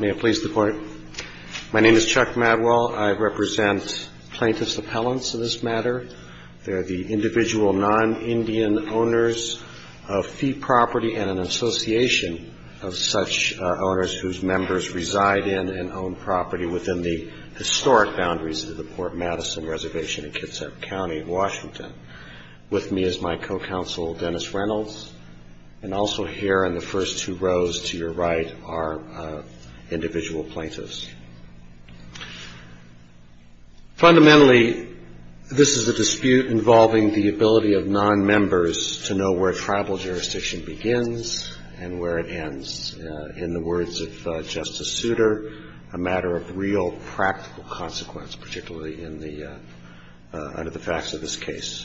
May it please the Court. My name is Chuck Madwell. I represent plaintiffs' appellants in this matter. They're the individual non-Indian owners of fee property and an association of such owners whose members reside in and own property within the historic boundaries of the Port Madison Reservation in Kitsap County, Washington. With me is my co-counsel, Dennis Reynolds, and also here in the first two rows to your right are the plaintiffs' representatives. Fundamentally, this is a dispute involving the ability of non-members to know where tribal jurisdiction begins and where it ends. In the words of Justice Souter, a matter of real practical consequence, particularly under the facts of this case.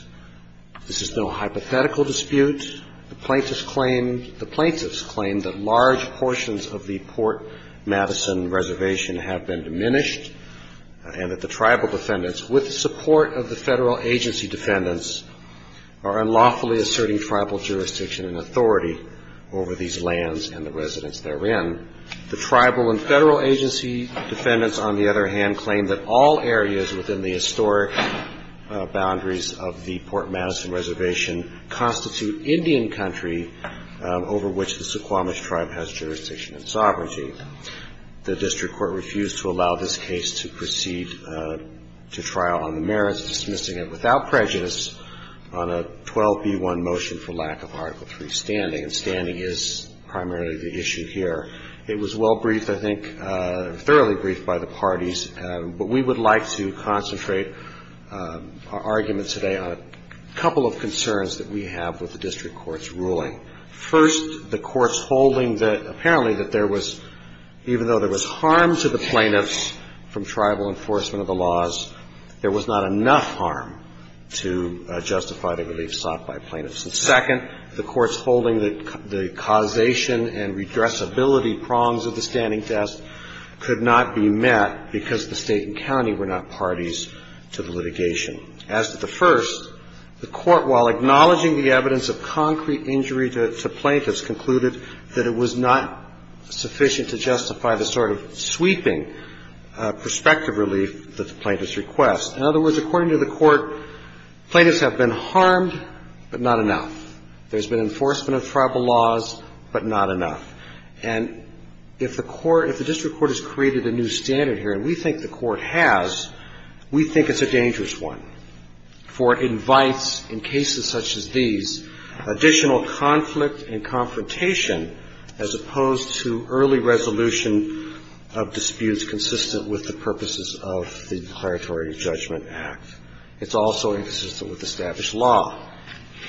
This is no hypothetical dispute. The plaintiffs claim that large portions of the Port Madison Reservation have been diminished and that the tribal defendants, with the support of the federal agency defendants, are unlawfully asserting tribal jurisdiction and authority over these lands and the residents therein. The tribal and federal agency defendants, on the other hand, claim that all areas within the historic boundaries of the Port Madison Reservation constitute Indian country over which the Suquamish tribe has jurisdiction and sovereignty. The district court refused to allow this case to proceed to trial on the merits of dismissing it without prejudice on a 12b1 motion for lack of Article III standing. And standing is primarily the issue here. It was well briefed, I think, thoroughly briefed by the parties. But we would like to concentrate our argument today on a couple of concerns that we have with the district court's ruling. First, the court's holding that apparently that there was, even though there was harm to the plaintiffs from tribal enforcement of the laws, there was not enough harm to justify the relief sought by plaintiffs. And second, the court's holding that the causation and redressability prongs of the standing test could not be met because the State and county were not parties to the litigation. As to the first, the court, while acknowledging the evidence of concrete injury to plaintiffs, concluded that it was not sufficient to justify the sort of sweeping prospective relief that the plaintiffs request. In other words, according to the court, plaintiffs have been harmed, but not enough. There's been enforcement of tribal laws, but not enough. And if the court, if the district court has created a new standard here, and we think the court has, we think it's a dangerous one for invites in cases such as these, additional conflict and confrontation as opposed to early resolution of disputes consistent with the purposes of the declaratory judgment. It's also inconsistent with established law.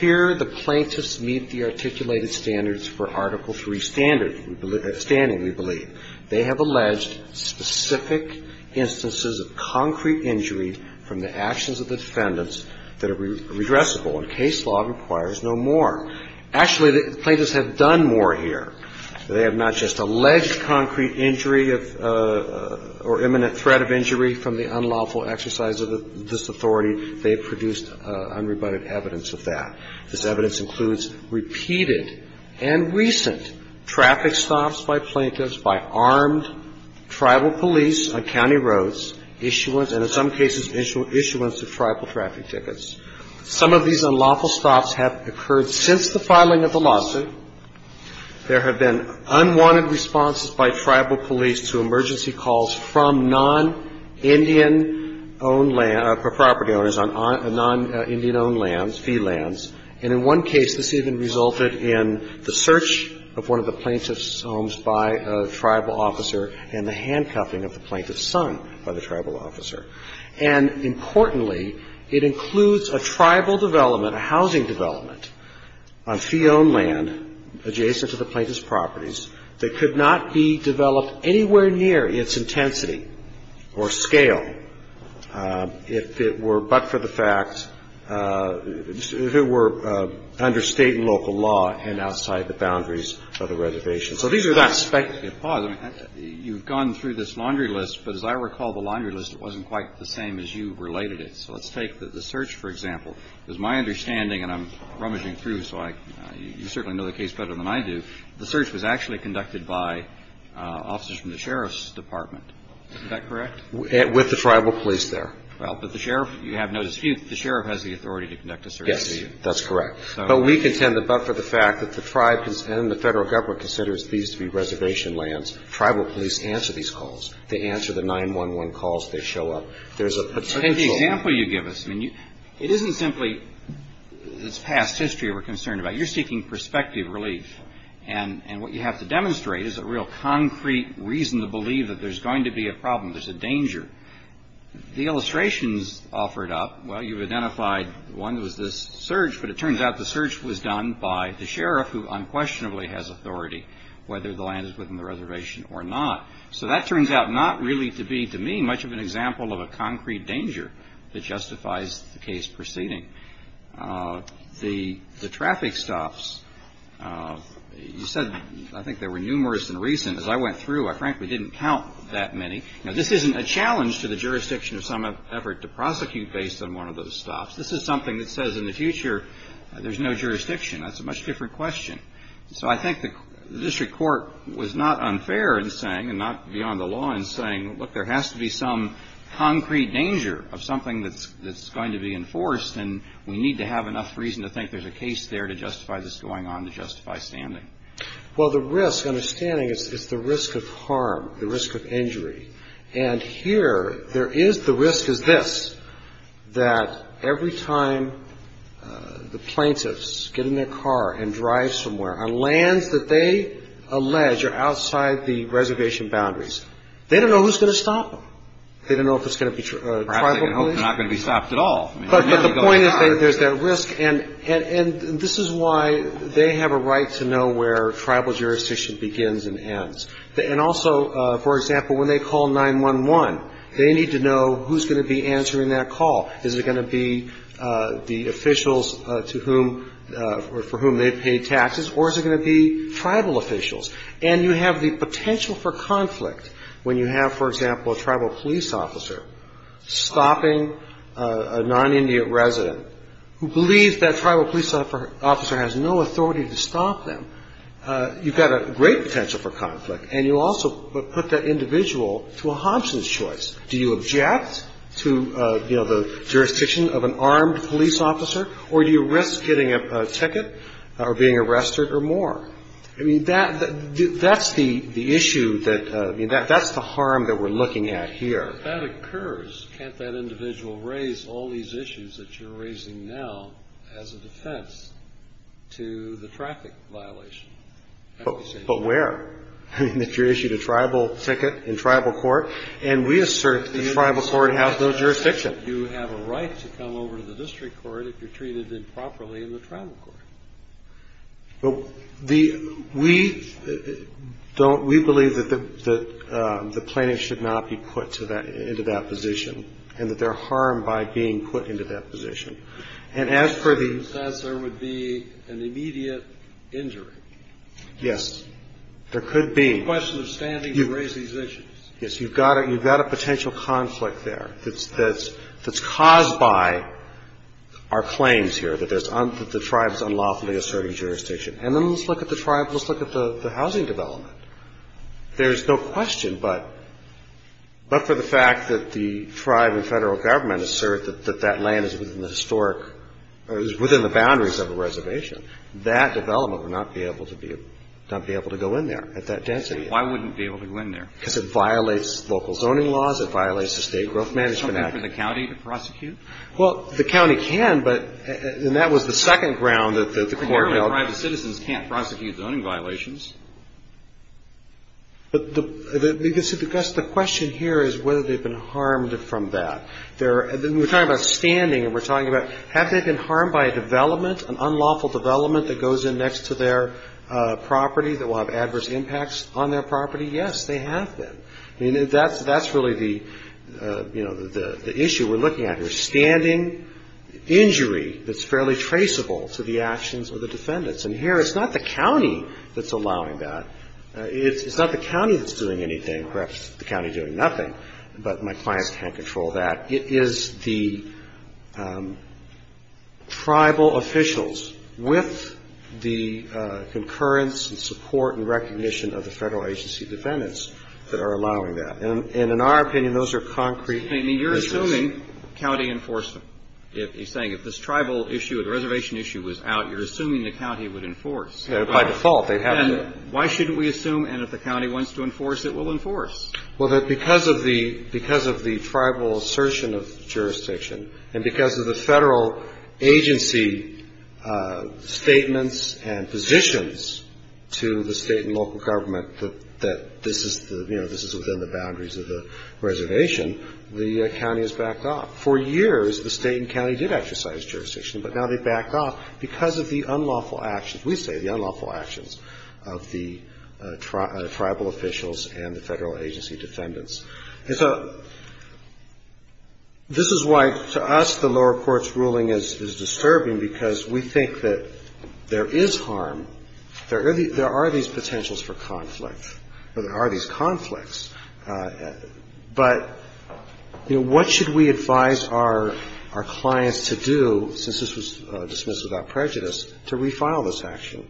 Here, the plaintiffs meet the articulated standards for Article III standing, we believe. They have alleged specific instances of concrete injury from the actions of the defendants that are redressable, and case law requires no more. Actually, the plaintiffs have done more here. They have not just alleged concrete injury or imminent threat of injury from the unlawful exercise of this authority. They have produced unrebutted evidence of that. This evidence includes repeated and recent traffic stops by plaintiffs, by armed tribal police on county roads, issuance, and in some cases, issuance of tribal traffic tickets. Some of these unlawful stops have occurred since the filing of the lawsuit. There have been unwanted responses by tribal police to emergency calls from non-Indian-owned land or property owners on non-Indian-owned lands, fee lands, and in one case, this even resulted in the search of one of the plaintiffs' homes by a tribal officer and the handcuffing of the plaintiff's son by the tribal officer. And importantly, it includes a tribal development, a housing development, on fee-owned land adjacent to the plaintiff's properties that could not be developed anywhere near its intensity or scale if it were but for the fact, if it were under State and local law and outside the boundaries of the reservation. So these are not speculative. Kennedy. Pause. You've gone through this laundry list, but as I recall the laundry list, it wasn't quite the same as you related it. So let's take the search, for example. It was my understanding, and I'm rummaging through, so you certainly know the case better than I do. The search was actually conducted by officers from the sheriff's department. Is that correct? Verrilli, Jr. With the tribal police there. Kennedy. Well, but the sheriff, you have no dispute that the sheriff has the authority to conduct a search. Verrilli, Jr. Yes. That's correct. But we contend that but for the fact that the tribe and the federal government considers these to be reservation lands, tribal police answer these calls. They answer the 911 calls. They show up. There's a potential. Kennedy. But the example you give us, I mean, it isn't simply this past history we're concerned about. You're seeking perspective relief, and what you have to demonstrate is a real concrete reason to believe that there's going to be a problem, there's a danger. The illustrations offered up, well, you've identified one was this search, but it turns out the search was done by the sheriff, who unquestionably has authority whether the land is within the reservation or not. So that turns out not really to be, to me, much of an example of a concrete danger that justifies the case proceeding. The traffic stops, you said, I think there were numerous and recent. As I went through, I frankly didn't count that many. Now, this isn't a challenge to the jurisdiction of some effort to prosecute based on one of those stops. This is something that says in the future there's no jurisdiction. That's a much different question. So I think the district court was not unfair in saying, and not beyond the law in saying, look, there has to be some concrete danger of something that's going to be enforced, and we need to have enough reason to think there's a case there to justify this going on, to justify standing. Well, the risk, understanding, is the risk of harm, the risk of injury. And here there is the risk is this, that every time the plaintiffs get in their car and drive somewhere, on lands that they allege are outside the reservation boundaries, they don't know who's going to stop them. They don't know if it's going to be tribal police. Perhaps they can hope they're not going to be stopped at all. But the point is there's that risk, and this is why they have a right to know where tribal jurisdiction begins and ends. And also, for example, when they call 911, they need to know who's going to be answering that call. Is it going to be the officials to whom or for whom they've paid taxes, or is it going to be tribal officials? And you have the potential for conflict when you have, for example, a tribal police officer stopping a non-Indian resident who believes that tribal police officer has no authority to stop them. You've got a great potential for conflict, and you also put that individual to a Hobson's choice. Do you object to, you know, the jurisdiction of an armed police officer, or do you risk getting a ticket or being arrested or more? I mean, that's the issue that, I mean, that's the harm that we're looking at here. If that occurs, can't that individual raise all these issues that you're raising now as a defense to the traffic violation? But where? I mean, if you're issued a tribal ticket in tribal court, and we assert the tribal court has no jurisdiction. You have a right to come over to the district court if you're treated improperly in the tribal court. Well, we believe that the plaintiff should not be put into that position, and that they're harmed by being put into that position. And as per the process, there would be an immediate injury. Yes, there could be. It's a question of standing to raise these issues. Yes, you've got a potential conflict there that's caused by our claims here that the tribe is unlawfully asserting jurisdiction. And then let's look at the tribe, let's look at the housing development. There's no question but for the fact that the tribe and Federal Government assert that that land is within the historic or is within the boundaries of a reservation, that development would not be able to go in there at that density. Why wouldn't it be able to go in there? Because it violates local zoning laws. It violates the State Growth Management Act. Can the county prosecute? Well, the county can, but that was the second ground that the court held. Private citizens can't prosecute zoning violations. But the question here is whether they've been harmed from that. We're talking about standing, and we're talking about have they been harmed by a development, an unlawful development that goes in next to their property that will have adverse impacts on their property? Yes, they have been. That's really the issue we're looking at here, standing, injury that's fairly traceable to the actions of the defendants. And here it's not the county that's allowing that. It's not the county that's doing anything, perhaps the county doing nothing, but my clients can't control that. It is the tribal officials with the concurrence and support and recognition of the federal agency defendants that are allowing that. And in our opinion, those are concrete issues. I mean, you're assuming county enforcement. He's saying if this tribal issue, the reservation issue was out, you're assuming the county would enforce. By default, they have to. Then why shouldn't we assume, and if the county wants to enforce, it will enforce? Well, because of the tribal assertion of jurisdiction and because of the federal agency statements and positions to the state and local government that this is within the boundaries of the reservation, the county has backed off. For years, the state and county did exercise jurisdiction, but now they've backed off because of the unlawful actions. of the tribal officials and the federal agency defendants. And so this is why, to us, the lower court's ruling is disturbing, because we think that there is harm. There are these potentials for conflict, or there are these conflicts. But, you know, what should we advise our clients to do, since this was dismissed without prejudice, to refile this action?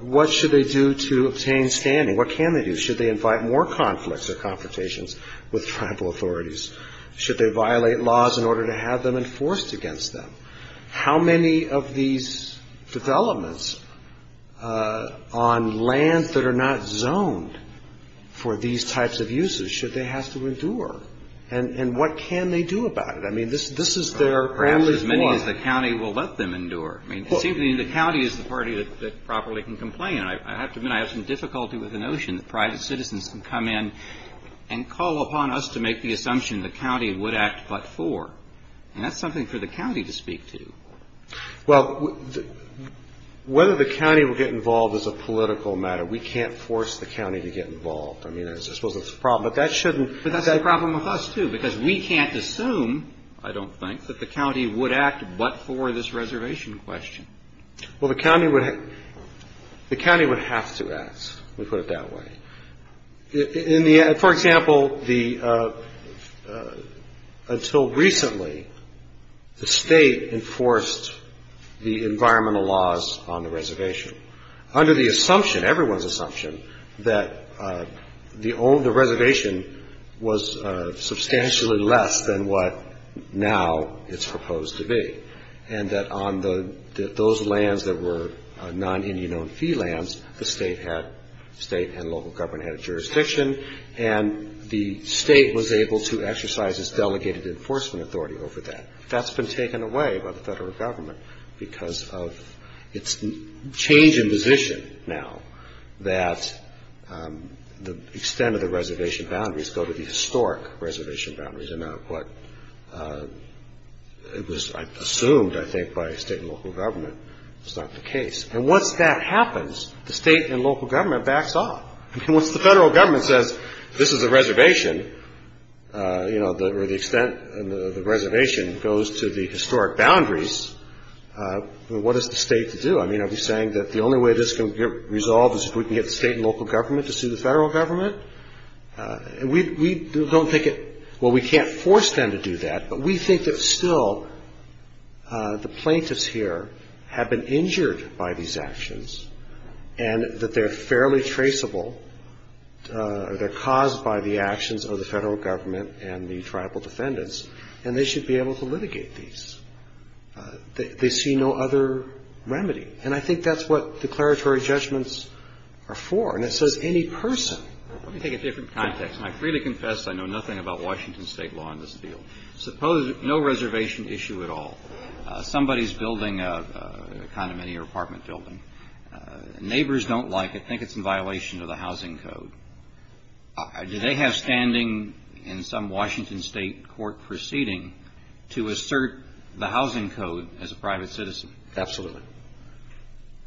What should they do to obtain standing? What can they do? Should they invite more conflicts or confrontations with tribal authorities? Should they violate laws in order to have them enforced against them? How many of these developments on land that are not zoned for these types of uses should they have to endure? And what can they do about it? I mean, this is their family's law. Perhaps as many as the county will let them endure. It seems to me the county is the party that properly can complain. I have to admit, I have some difficulty with the notion that private citizens can come in and call upon us to make the assumption the county would act but for. And that's something for the county to speak to. Well, whether the county will get involved is a political matter. We can't force the county to get involved. I mean, I suppose that's a problem. But that shouldn't be. But that's a problem with us, too, because we can't assume, I don't think, that the county would act but for this reservation question. Well, the county would have to act, let me put it that way. For example, until recently, the state enforced the environmental laws on the reservation. Under the assumption, everyone's assumption, that the reservation was substantially less than what now it's proposed to be. And that on those lands that were non-Indian-owned fee lands, the state and local government had a jurisdiction, and the state was able to exercise its delegated enforcement authority over that. That's been taken away by the federal government because of its change in position now, that the extent of the reservation boundaries go to the historic reservation boundaries. It was assumed, I think, by state and local government. It's not the case. And once that happens, the state and local government backs off. Once the federal government says, this is a reservation, you know, or the extent of the reservation goes to the historic boundaries, what is the state to do? I mean, are we saying that the only way this can get resolved is if we can get the state and local government to sue the federal government? And we don't think it – well, we can't force them to do that, but we think that still the plaintiffs here have been injured by these actions, and that they're fairly traceable, or they're caused by the actions of the federal government and the tribal defendants, and they should be able to litigate these. They see no other remedy. And I think that's what declaratory judgments are for. And it says any person. Let me take a different context, and I freely confess I know nothing about Washington State law in this field. Suppose no reservation issue at all. Somebody's building a condominium or apartment building. Neighbors don't like it, think it's in violation of the housing code. Do they have standing in some Washington State court proceeding to assert the housing code as a private citizen? Absolutely.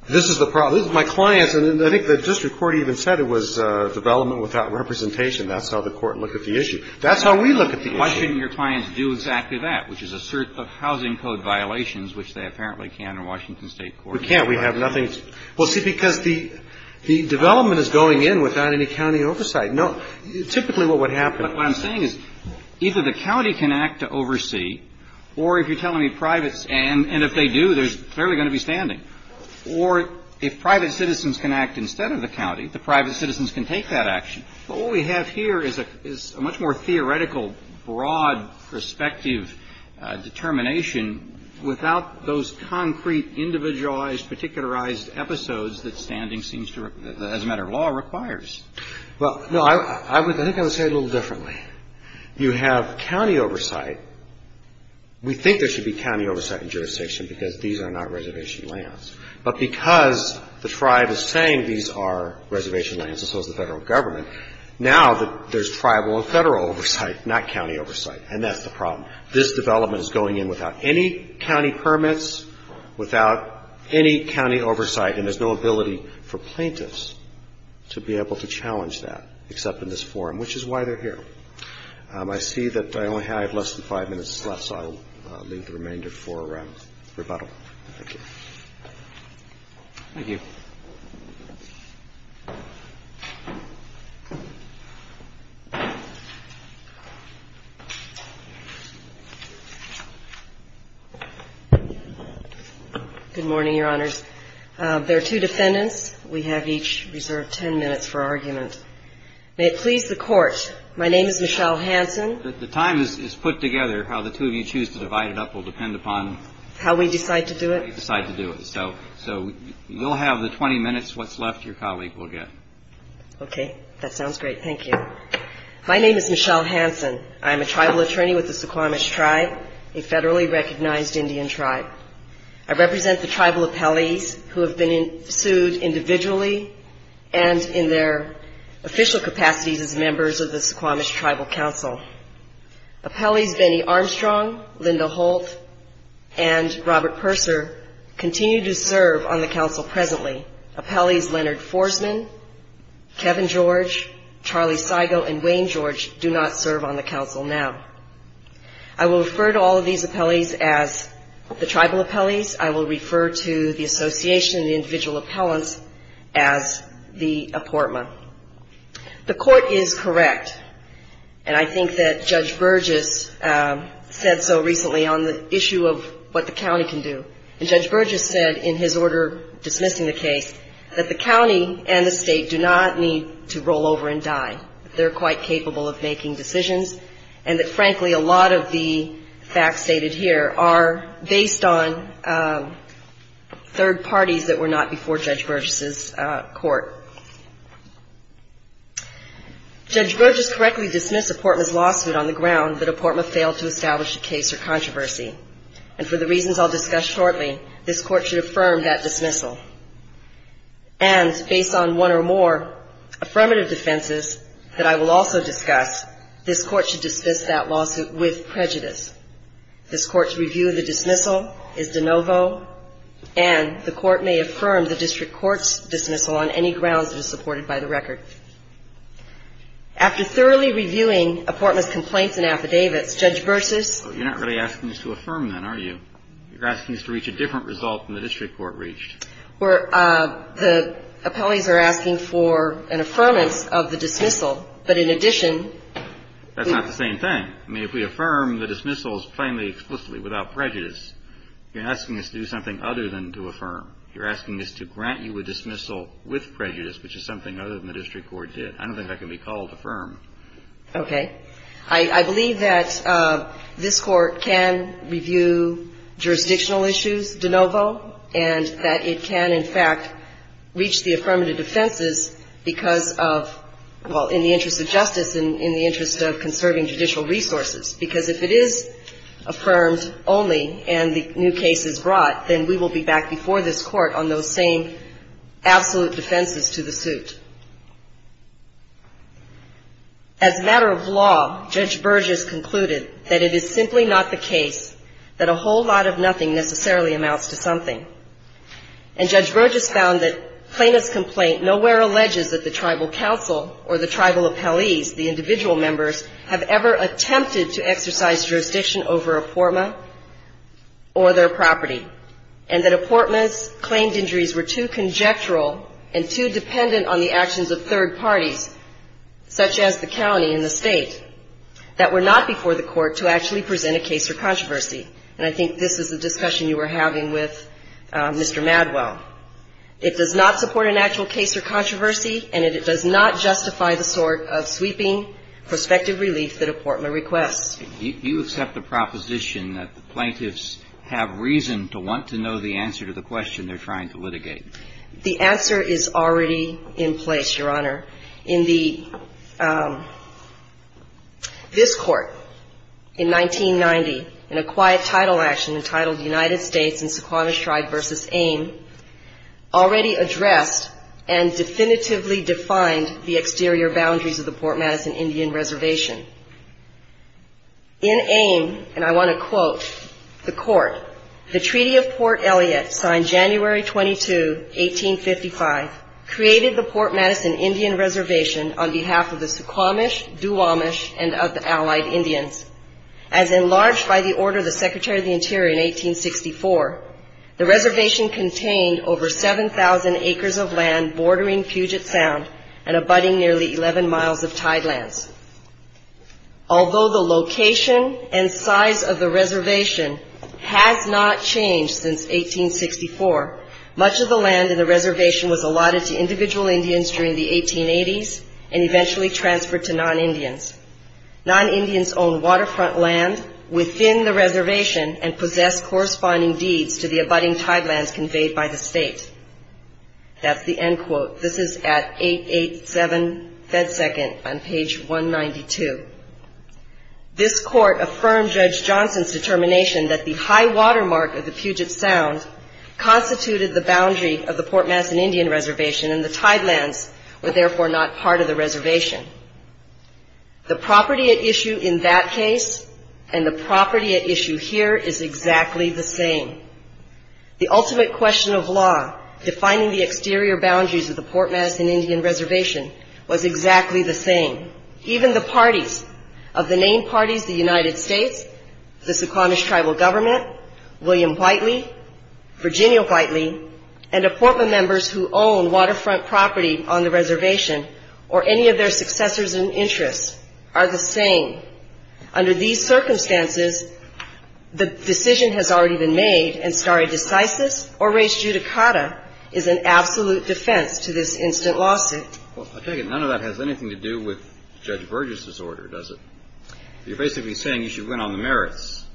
This is the problem. This is my clients, and I think the district court even said it was development without representation. That's how the court looked at the issue. That's how we look at the issue. Why shouldn't your clients do exactly that, which is assert the housing code violations, which they apparently can in Washington State court? We can't. We have nothing. Well, see, because the development is going in without any county oversight. No. Typically what would happen. But what I'm saying is either the county can act to oversee, or if you're telling me privates, and if they do, there's clearly going to be standing. Or if private citizens can act instead of the county, the private citizens can take that action. But what we have here is a much more theoretical, broad, prospective determination without those concrete, individualized, particularized episodes that standing seems to, as a matter of law, requires. Well, no. I think I would say it a little differently. You have county oversight. We think there should be county oversight in jurisdiction, because these are not reservation lands. But because the tribe is saying these are reservation lands, and so is the federal government, now there's tribal and federal oversight, not county oversight. And that's the problem. This development is going in without any county permits, without any county oversight, and there's no ability for plaintiffs to be able to challenge that, except in this forum, which is why they're here. I see that I only have less than five minutes left, so I'll leave the remainder for rebuttal. Thank you. Thank you. Good morning, Your Honors. There are two defendants. We have each reserved ten minutes for argument. May it please the Court, my name is Michelle Hansen. The time is put together. How the two of you choose to divide it up will depend upon. How we decide to do it. How you decide to do it. So you'll have the 20 minutes. What's left, your colleague will get. Okay. That sounds great. Thank you. My name is Michelle Hansen. I am a tribal attorney with the Suquamish Tribe, a federally recognized Indian tribe. I represent the tribal appellees who have been sued individually and in their official capacities as members of the Suquamish Tribal Council. Appellees Benny Armstrong, Linda Holt, and Robert Purser continue to serve on the Council presently. Appellees Leonard Forsman, Kevin George, Charlie Seigel, and Wayne George do not serve on the Council now. I will refer to all of these appellees as the tribal appellees. I will refer to the association of the individual appellants as the apportment. The Court is correct, and I think that Judge Burgess said so recently on the issue of what the county can do. And Judge Burgess said in his order dismissing the case that the county and the state do not need to roll over and die. They're quite capable of making decisions, and that, frankly, a lot of the facts stated here are based on third parties that were not before Judge Burgess' court. Judge Burgess correctly dismissed Apportma's lawsuit on the ground that Apportma failed to establish a case or controversy. And for the reasons I'll discuss shortly, this Court should affirm that dismissal. And based on one or more affirmative defenses that I will also discuss, this Court should dismiss that lawsuit with prejudice. This Court's review of the dismissal is de novo, and the Court may affirm the District Court's dismissal on any grounds that are supported by the record. After thoroughly reviewing Apportma's complaints and affidavits, Judge Burgess… The appellees are asking for an affirmance of the dismissal, but in addition… That's not the same thing. I mean, if we affirm the dismissals plainly, explicitly, without prejudice, you're asking us to do something other than to affirm. You're asking us to grant you a dismissal with prejudice, which is something other than the District Court did. I don't think that can be called affirm. Okay. I believe that this Court can review jurisdictional issues de novo, and that it can, in fact, reach the affirmative defenses because of, well, in the interest of justice and in the interest of conserving judicial resources, because if it is affirmed only and the new case is brought, then we will be back before this Court on those same absolute defenses to the suit. As a matter of law, Judge Burgess concluded that it is simply not the case that a whole lot of nothing necessarily amounts to something. And Judge Burgess found that Plaintiff's complaint nowhere alleges that the tribal council or the tribal appellees, the individual members, have ever attempted to exercise jurisdiction over Apportma or their property, and that Apportma's claimed injuries were too conjectural and too dependent on the actions of third parties, such as the county and the State, that were not before the Court to actually present a case or controversy. And I think this is the discussion you were having with Mr. Madwell. It does not support an actual case or controversy, and it does not justify the sort of sweeping prospective relief that Apportma requests. Do you accept the proposition that the plaintiffs have reason to want to know the answer to the question they're trying to litigate? The answer is already in place, Your Honor. This Court, in 1990, in a quiet title action entitled United States and Suquamish Tribe v. AIM, already addressed and definitively defined the exterior boundaries of the Port Madison Indian Reservation. In AIM, and I want to quote the Court, the Treaty of Port Elliott, signed January 22, 1855, created the Port Madison Indian Reservation on behalf of the Suquamish, Duwamish, and other allied Indians. As enlarged by the order of the Secretary of the Interior in 1864, the reservation contained over 7,000 acres of land bordering Puget Sound and abutting nearly 11 miles of tidelands. Although the location and size of the reservation has not changed since 1864, much of the land in the reservation was allotted to individual Indians during the 1880s and eventually transferred to non-Indians. Non-Indians owned waterfront land within the reservation and possessed corresponding deeds to the abutting tidelands conveyed by the state. That's the end quote. This is at 887 FedSecond on page 192. This court affirmed Judge Johnson's determination that the high watermark of the Puget Sound constituted the boundary of the Port Madison Indian Reservation and the tidelands were therefore not part of the reservation. The property at issue in that case and the property at issue here is exactly the same. The ultimate question of law defining the exterior boundaries of the Port Madison Indian Reservation was exactly the same. Even the parties of the named parties, the United States, the Suquamish tribal government, William Whiteley, Virginia Whiteley, and the Portland members who own waterfront property on the reservation or any of their successors in interest are the same. Under these circumstances, the decision has already been made and stare decisis or reis judicata is an absolute defense to this instant lawsuit. Well, I take it none of that has anything to do with Judge Burgess's order, does it? You're basically saying you should win on the merits.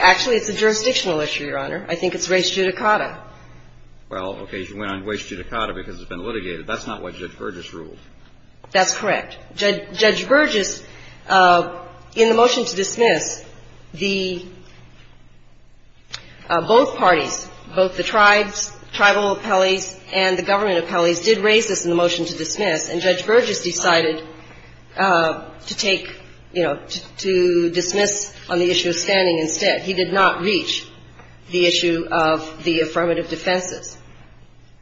Actually, it's a jurisdictional issue, Your Honor. I think it's reis judicata. Well, okay, you should win on reis judicata because it's been litigated. That's not what Judge Burgess ruled. That's correct. Judge Burgess, in the motion to dismiss, the both parties, both the tribes, tribal appellees, and the government appellees did raise this in the motion to dismiss, and Judge Burgess decided to take, you know, to dismiss on the issue of standing instead. He did not reach the issue of the affirmative defenses.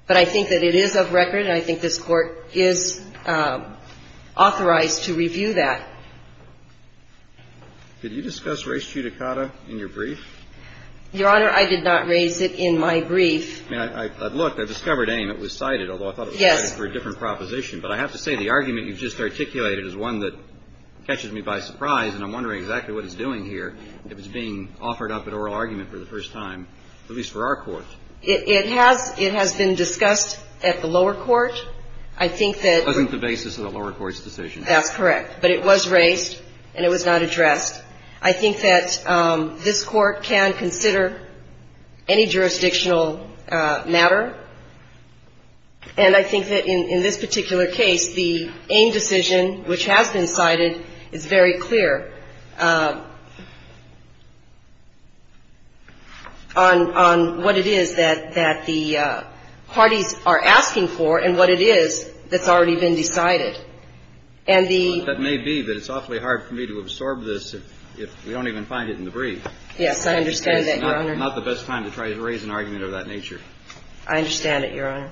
But I think that it is of record, and I think this Court is authorized to review that. Did you discuss reis judicata in your brief? Your Honor, I did not raise it in my brief. Look, I discovered AIM. It was cited, although I thought it was cited for a different proposition, but I have to say the argument you've just articulated is one that catches me by surprise, and I'm wondering exactly what it's doing here if it's being offered up at oral argument for the first time, at least for our Court. It has been discussed at the lower court. I think that the basis of the lower court's decision. That's correct. But it was raised, and it was not addressed. I think that this Court can consider any jurisdictional matter, and I think that in this particular case, the AIM decision, which has been cited, is very clear on what it is. It is that the parties are asking for, and what it is, that's already been decided. And the — That may be, but it's awfully hard for me to absorb this if we don't even find it in the brief. Yes, I understand that, Your Honor. Because it's not the best time to try to raise an argument of that nature. I understand it, Your Honor.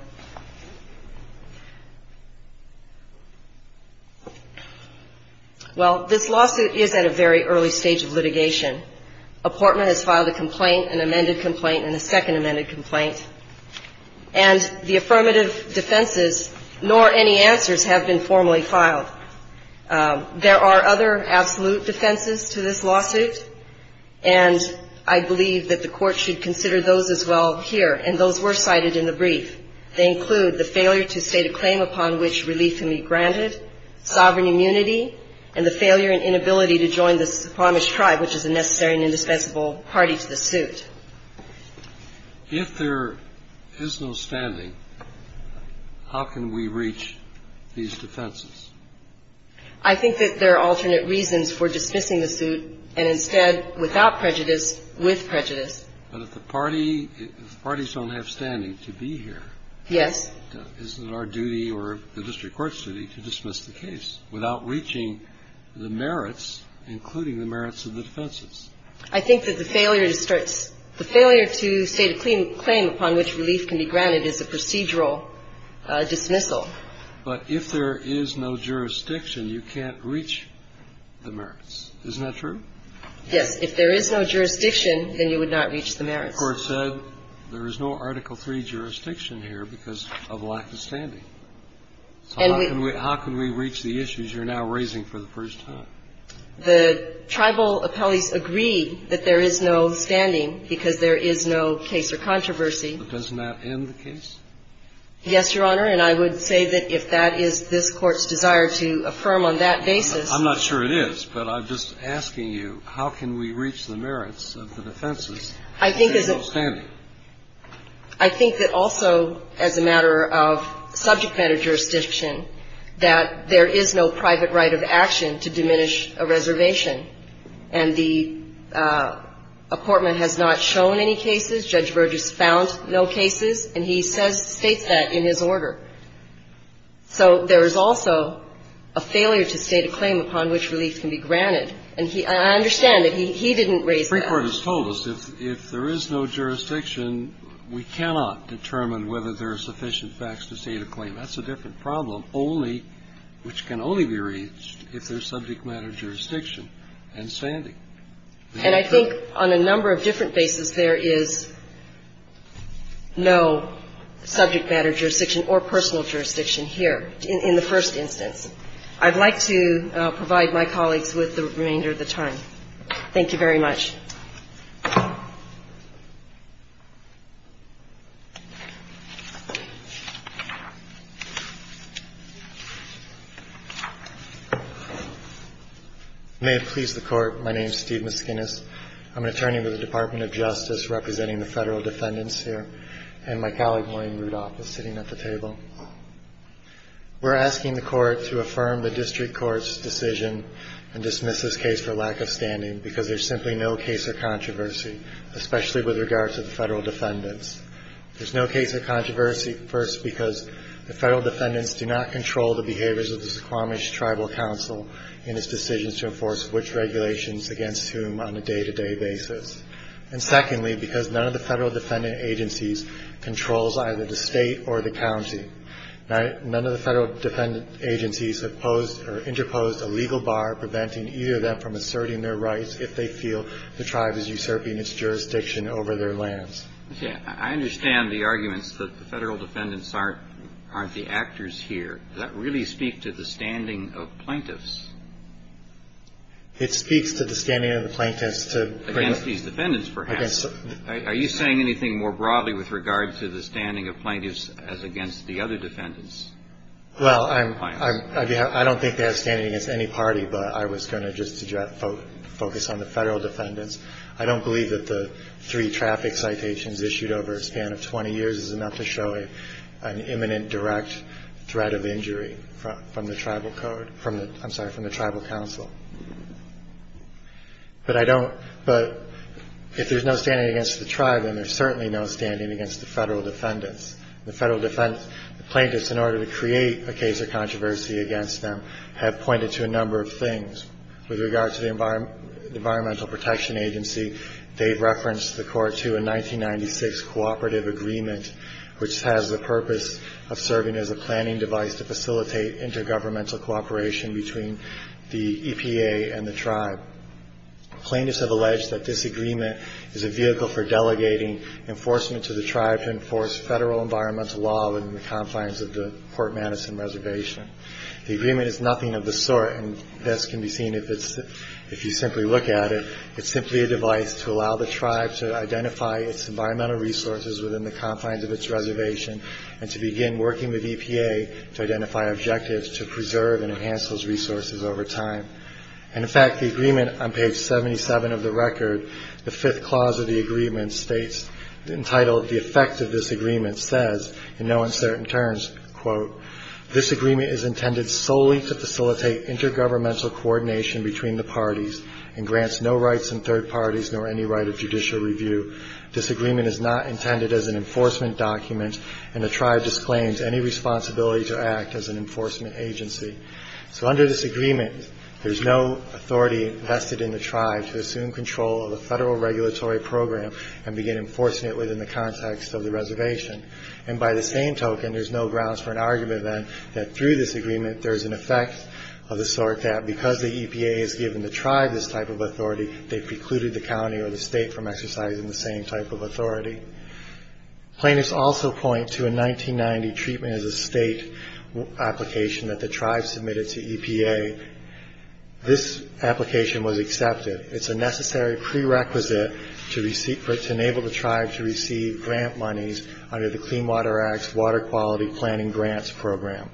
Well, this lawsuit is at a very early stage of litigation. Apportment has filed a complaint, an amended complaint, and a second amended complaint. And the affirmative defenses, nor any answers, have been formally filed. There are other absolute defenses to this lawsuit, and I believe that the Court should consider those as well here. And those were cited in the brief. They include the failure to state a claim upon which relief can be granted, sovereign immunity, and the failure and inability to join the Promised Tribe, which is a necessary and indispensable party to the suit. If there is no standing, how can we reach these defenses? I think that there are alternate reasons for dismissing the suit, and instead, without prejudice, with prejudice. But if the parties don't have standing to be here, is it our duty or the district court's duty to dismiss the suit? I think that the failure to state a claim upon which relief can be granted is a procedural dismissal. But if there is no jurisdiction, you can't reach the merits. Isn't that true? Yes. If there is no jurisdiction, then you would not reach the merits. The Court said there is no Article III jurisdiction here because of lack of standing. How can we reach the issues you're now raising for the first time? The tribal appellees agree that there is no standing because there is no case or controversy. But doesn't that end the case? Yes, Your Honor, and I would say that if that is this Court's desire to affirm on that basis. I'm not sure it is, but I'm just asking you, how can we reach the merits of the defenses if there's no standing? I think that also as a matter of subject matter jurisdiction, that there is no private right of action to diminish a reservation. And the apportment has not shown any cases. Judge Burgess found no cases, and he states that in his order. So there is also a failure to state a claim upon which relief can be granted. And I understand that he didn't raise that. The Supreme Court has told us if there is no jurisdiction, we cannot determine whether there are sufficient facts to state a claim. That's a different problem, only which can only be reached if there is subject matter jurisdiction and standing. And I think on a number of different bases, there is no subject matter jurisdiction or personal jurisdiction here in the first instance. I'd like to provide my colleagues with the remainder of the time. Thank you very much. May it please the Court. My name is Steve Mesquinas. I'm an attorney with the Department of Justice representing the federal defendants here, and my colleague, William Rudolph, is sitting at the table. We're asking the Court to affirm the district court's decision and dismiss this case for lack of standing because there's simply no case of controversy, especially with regard to the federal defendants. There's no case of controversy, first, because the federal defendants do not control the behaviors of the Suquamish Tribal Council in its decisions to enforce which regulations against whom on a day-to-day basis. And secondly, because none of the federal defendant agencies controls either the State or the county. None of the federal defendant agencies have posed or interposed a legal bar preventing either of them from asserting their rights if they feel the tribe is usurping its jurisdiction over their lands. I understand the arguments that the federal defendants aren't the actors here. Does that really speak to the standing of plaintiffs? It speaks to the standing of the plaintiffs. Against these defendants, perhaps. Are you saying anything more broadly with regard to the standing of plaintiffs as against the other defendants? Well, I don't think they have standing against any party, but I was going to just focus on the federal defendants. I don't believe that the three traffic citations issued over a span of 20 years is enough to show an imminent direct threat of injury from the Tribal Code. I'm sorry, from the Tribal Council. But I don't. But if there's no standing against the tribe, then there's certainly no standing against the federal defendants. The federal defendants, the plaintiffs, in order to create a case of controversy against them, have pointed to a number of things. With regard to the Environmental Protection Agency, they've referenced the court to a 1996 cooperative agreement which has the purpose of serving as a planning device to facilitate intergovernmental cooperation between the EPA and the tribe. Plaintiffs have alleged that this agreement is a vehicle for delegating enforcement to the tribe to enforce federal environmental law within the confines of the Port Madison Reservation. The agreement is nothing of the sort, and this can be seen if you simply look at it. It's simply a device to allow the tribe to identify its environmental resources within the confines of its reservation and to begin working with EPA to identify objectives to preserve and enhance those resources over time. And, in fact, the agreement on page 77 of the record, the fifth clause of the agreement states, entitled, The Effect of This Agreement, says, in no uncertain terms, quote, This agreement is intended solely to facilitate intergovernmental coordination between the parties and grants no rights in third parties nor any right of judicial review. This agreement is not intended as an enforcement document, and the tribe disclaims any responsibility to act as an enforcement agency. So under this agreement, there's no authority vested in the tribe to assume control of the and begin enforcing it within the context of the reservation. And by the same token, there's no grounds for an argument, then, that through this agreement there's an effect of the sort that because the EPA has given the tribe this type of authority, they've precluded the county or the state from exercising the same type of authority. Plaintiffs also point to a 1990 treatment as a state application that the tribe submitted to EPA. This application was accepted. It's a necessary prerequisite to enable the tribe to receive grant monies under the Clean Water Act's Water Quality Planning Grants Program.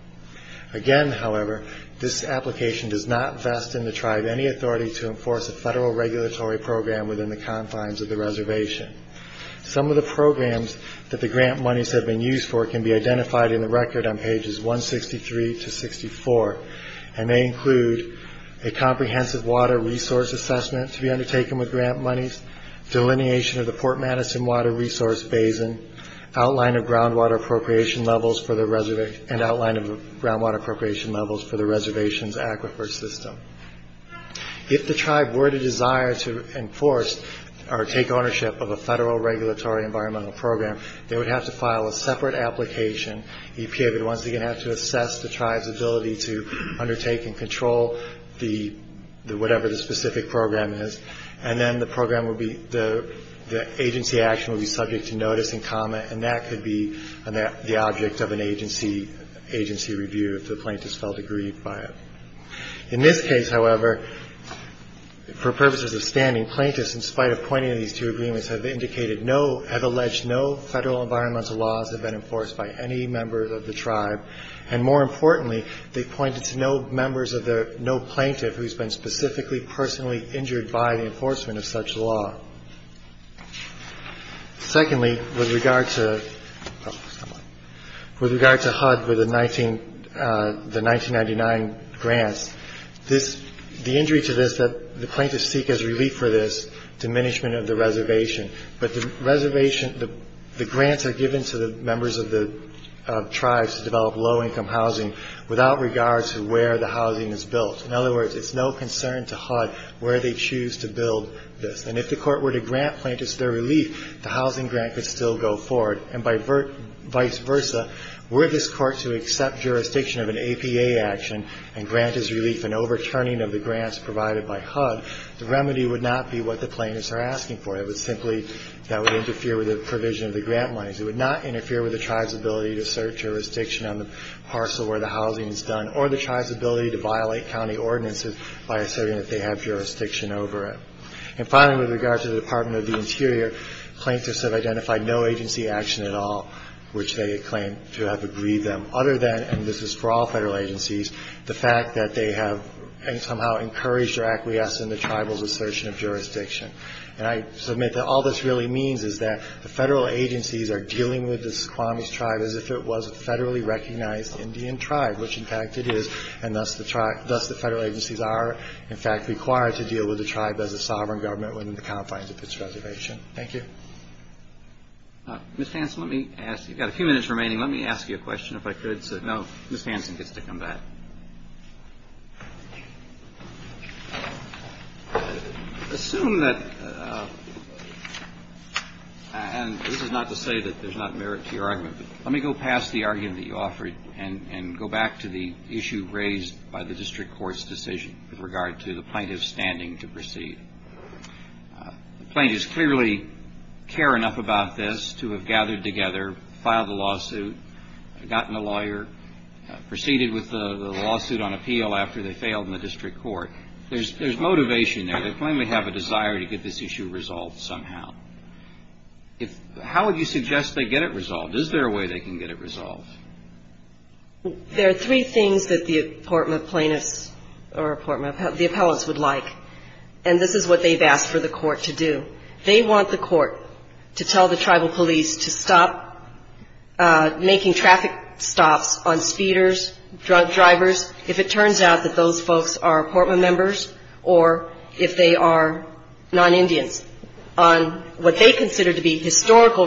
Again, however, this application does not vest in the tribe any authority to enforce a federal regulatory program within the confines of the reservation. Some of the programs that the grant monies have been used for can be identified in the record on pages 163 to 64, and they include a comprehensive water resource assessment to be undertaken with grant monies, delineation of the Fort Madison Water Resource Basin, outline of groundwater appropriation levels for the reservation, and outline of groundwater appropriation levels for the reservation's aquifer system. If the tribe were to desire to enforce or take ownership of a federal regulatory environmental program, they would have to file a separate application. EPA would once again have to assess the tribe's ability to undertake and control the whatever the specific program is, and then the agency action would be subject to notice and comment, and that could be the object of an agency review if the plaintiffs felt agreed by it. In this case, however, for purposes of standing, plaintiffs, in spite of pointing to these two agreements, have indicated no, have alleged no federal environmental laws have been enforced by any members of the tribe, and more importantly, they pointed to no members of the, no plaintiff who's been specifically, personally injured by the enforcement of such law. Secondly, with regard to, oh, come on, with regard to HUD with the 19, the 1999 grants, this, the injury to this that the plaintiffs seek as relief for this, diminishment of the reservation, but the reservation, the grants are given to the members of the tribes to develop low-income housing without regard to where the housing is built. In other words, it's no concern to HUD where they choose to build this, and if the court were to grant plaintiffs their relief, the housing grant could still go forward, and by vice versa, were this jurisdiction of an APA action and grant as relief, an overturning of the grants provided by HUD, the remedy would not be what the plaintiffs are asking for. It would simply, that would interfere with the provision of the grant monies. It would not interfere with the tribe's ability to assert jurisdiction on the parcel where the housing is done, or the tribe's ability to violate county ordinances by asserting that they have jurisdiction over it. And finally, with regard to the Department of the Interior, plaintiffs have identified no agency action at all which they claim to have agreed them, other than, and this is for all federal agencies, the fact that they have somehow encouraged or acquiesced in the tribal's assertion of jurisdiction. And I submit that all this really means is that the federal agencies are dealing with the Suquamish tribe as if it was a federally recognized Indian tribe, which in fact it is, and thus the federal agencies are, in fact, required to deal with the tribe as a sovereign government within the confines of its reservation. Thank you. Mr. Hanson, let me ask, you've got a few minutes remaining. Let me ask you a question, if I could. No, Ms. Hanson gets to come back. Assume that, and this is not to say that there's not merit to your argument, but let me go past the argument that you offered and go back to the issue raised by the district court's decision with regard to the plaintiff's standing to proceed. The plaintiffs clearly care enough about this to have gathered together, filed a lawsuit, gotten a lawyer, proceeded with the lawsuit on appeal after they failed in the district court. There's motivation there. They plainly have a desire to get this issue resolved somehow. How would you suggest they get it resolved? Is there a way they can get it resolved? There are three things that the apportment plaintiffs or the appellants would like, and this is what they've asked for the court to do. They want the court to tell the tribal police to stop making traffic stops on speeders, drunk drivers, if it turns out that those folks are apportment members or if they are non-Indians, on what they versus Washington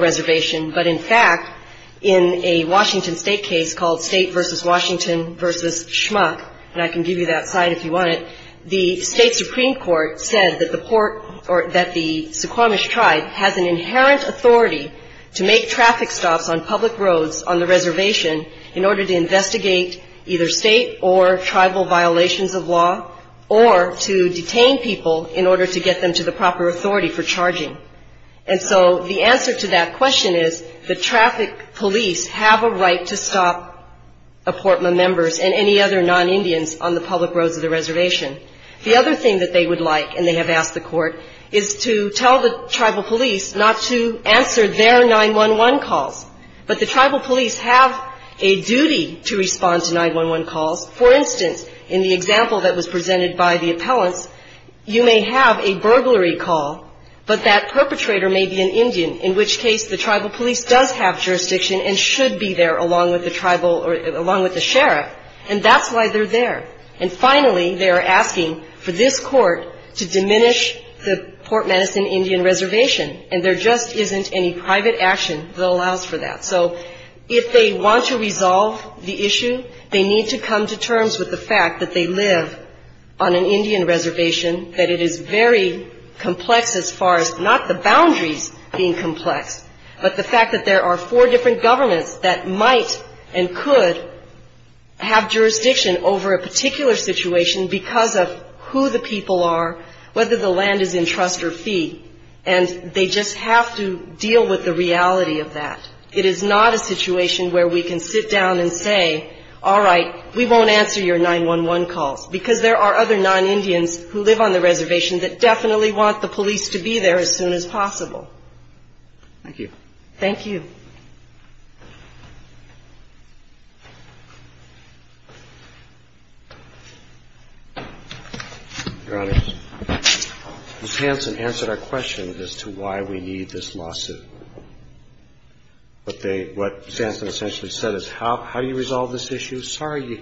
versus Schmuck, and I can give you that side if you want it. The state supreme court said that the port or that the Suquamish tribe has an inherent authority to make traffic stops on public roads on the reservation in order to investigate either state or tribal violations of law or to detain people in order to get them to the proper apportment members and any other non-Indians on the public roads of the reservation. The other thing that they would like, and they have asked the court, is to tell the tribal police not to answer their 911 calls, but the tribal police have a duty to respond to 911 calls. For instance, in the example that was presented by the appellants, you may have a burglary call, but that with the sheriff, and that's why they're there. And finally, they are asking for this court to diminish the Port Madison Indian Reservation, and there just isn't any private action that allows for that. So if they want to resolve the issue, they need to come to terms with the fact that they live on an Indian reservation, that it is very complex as far as not the boundaries being complex, but the fact that there are four different governments that might and could have jurisdiction over a particular situation because of who the people are, whether the land is in trust or fee, and they just have to deal with the reality of that. It is not a situation where we can sit down and say, all right, we won't answer your 911 calls, because there are other non-Indians who live on the reservation that definitely want the police to be there as soon as possible. Thank you. Thank you. Your Honor, Ms. Hansen answered our question as to why we need this lawsuit. What Ms. Hansen essentially said is how do you resolve this issue? Well, first of all, we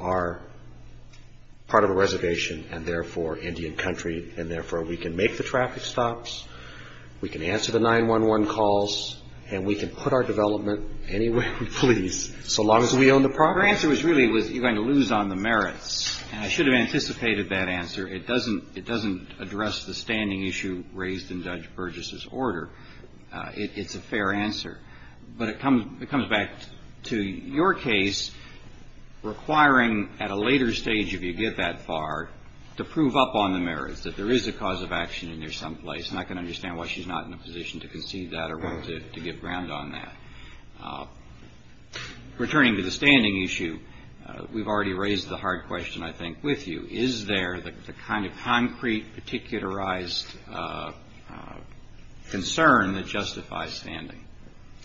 are part of a reservation, and therefore Indian country, and therefore we can make the traffic stops, we can answer the 911 calls, and we can put our development anywhere we please so long as we own the property. Your answer was really, you are going to lose on the merits, and I should have anticipated that answer. It doesn't address the standing issue raised in Judge Burgess's order. It's a fair answer. But it comes back to your case requiring at a later stage, if you get that far, to prove up on the merits that there is a cause of action in there someplace, and I can understand why she's not in a position to concede that or want to give ground on that. Returning to the standing issue, we've already raised the hard question, I think, with you. Is there the kind of concrete, particularized concern that justifies standing?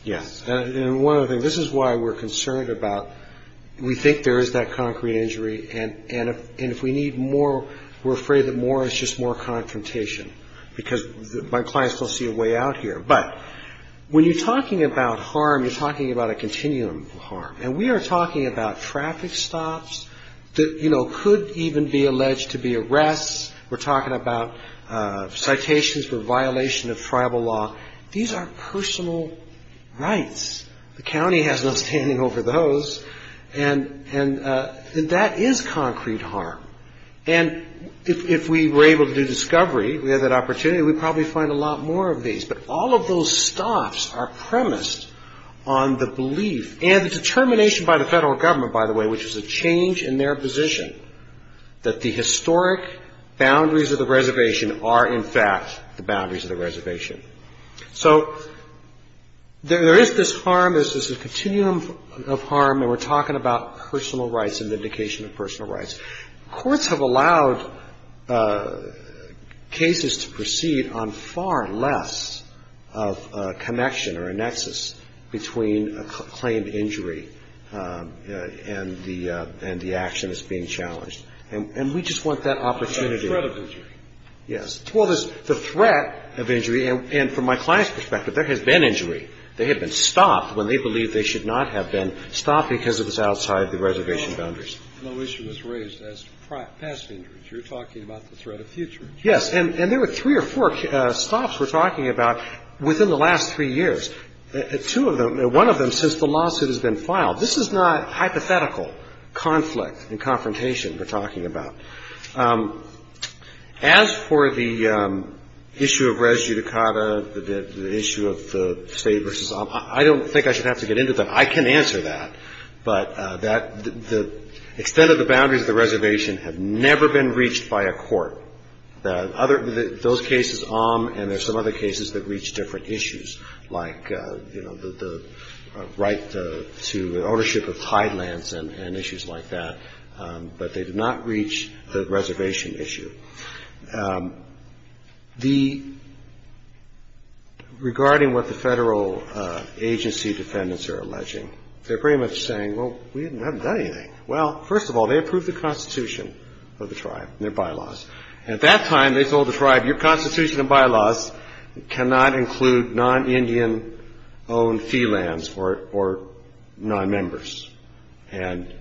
Yes. And one other thing, this is why we're concerned about, we think there is that concrete injury, and if we need more, we're afraid that more is just more confrontation, because my clients don't see a way out here. But when you're talking about harm, you're talking about a violation of tribal law. These are personal rights. The county has no standing over those, and that is concrete harm. And if we were able to do discovery, we had that opportunity, we'd probably find a lot more of these. But all of those stops are premised on the belief and the determination by the federal government, by the way, which is a change in their position, that the historic boundaries of the reservation are in fact the boundaries of the reservation. So there is this harm, there's this continuum of harm, and we're talking about personal rights and vindication of personal rights. Courts have allowed cases to proceed on far less of a connection or a nexus between a claimed injury and the action that's being challenged. And we just want that opportunity. The threat of injury. Yes. Well, there's the threat of injury, and from my client's perspective, there has been injury. They have been stopped when they believe they should not have been stopped because it was outside the reservation boundaries. No issue was raised as past injuries. You're talking about the threat of future injuries. Yes. And there were three or four stops we're talking about within the last three years. Two of them, one of them since the lawsuit has been As for the issue of res judicata, the issue of the state versus OM, I don't think I should have to get into that. I can answer that. But the extent of the boundaries of the reservation have never been reached by a court. Those cases, OM, and there's some other cases that reach different issues, like the right to ownership of tidelands and issues like that. But they did not reach the reservation issue. Regarding what the federal agency defendants are alleging, they're pretty much saying, well, we haven't done anything. Well, first of all, they approved the Constitution of the tribe and their bylaws. And at that time, they told the tribe, your Constitution and bylaws cannot include non-Indian-owned fee lands or non-members. And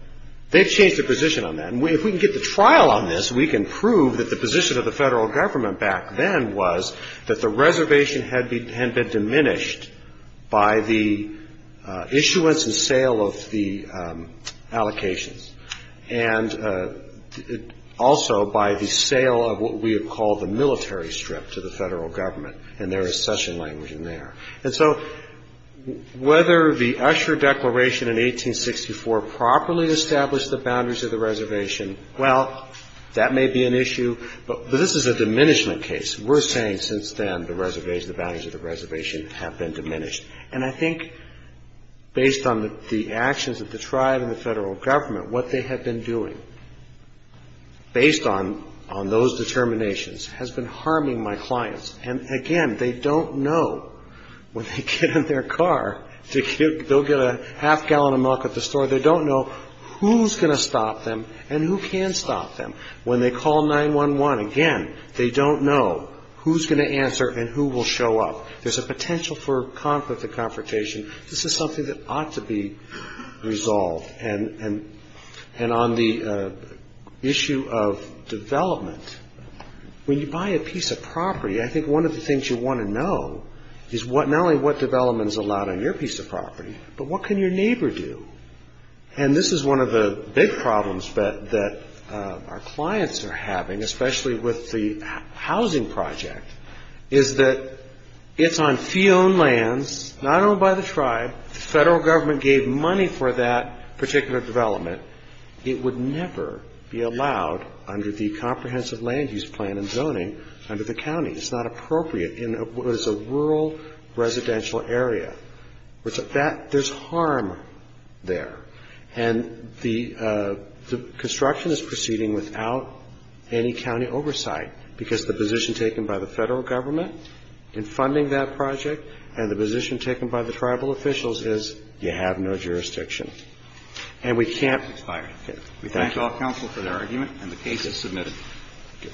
they've changed their position on that. And if we can get the trial on this, we can prove that the position of the federal government back then was that the reservation had been diminished by the issuance and sale of the allocations and also by the sale of what we have called the military strip to the federal government. And there is session language in there. And so whether the Usher Declaration in 1864 properly established the boundaries of the reservation, well, that may be an issue. But this is a diminishment case. We're saying since then the reservation, the boundaries of the reservation have been diminished. And I think based on the actions of the tribe and the federal government, what they have been doing, based on those determinations, has been harming my clients. And again, they don't know when they get in their car, they'll get a half gallon of milk at the store. They don't know who's going to stop them and who can stop them. When they call 911, again, they don't know who's going to answer and who will show up. There's a potential for conflict and confrontation. This is something that ought to be resolved. And on the issue of development, when you buy a piece of property, I think one of the things you want to know is not only what development is allowed on your piece of property, but what can your neighbor do? And this is one of the big problems that our clients are having, especially with the housing project, is that it's on fee-owned lands, not owned by the tribe. The federal government gave money for that particular development. It would never be allowed under the comprehensive land use plan and zoning under the county. It's not appropriate in what is a rural residential area. There's harm there. And the construction is proceeding without any county oversight because the position taken by the federal government in funding that project and the position taken by the tribal officials is you have no jurisdiction. And we can't expire it. We thank all counsel for their argument, and the case is submitted. Thank you.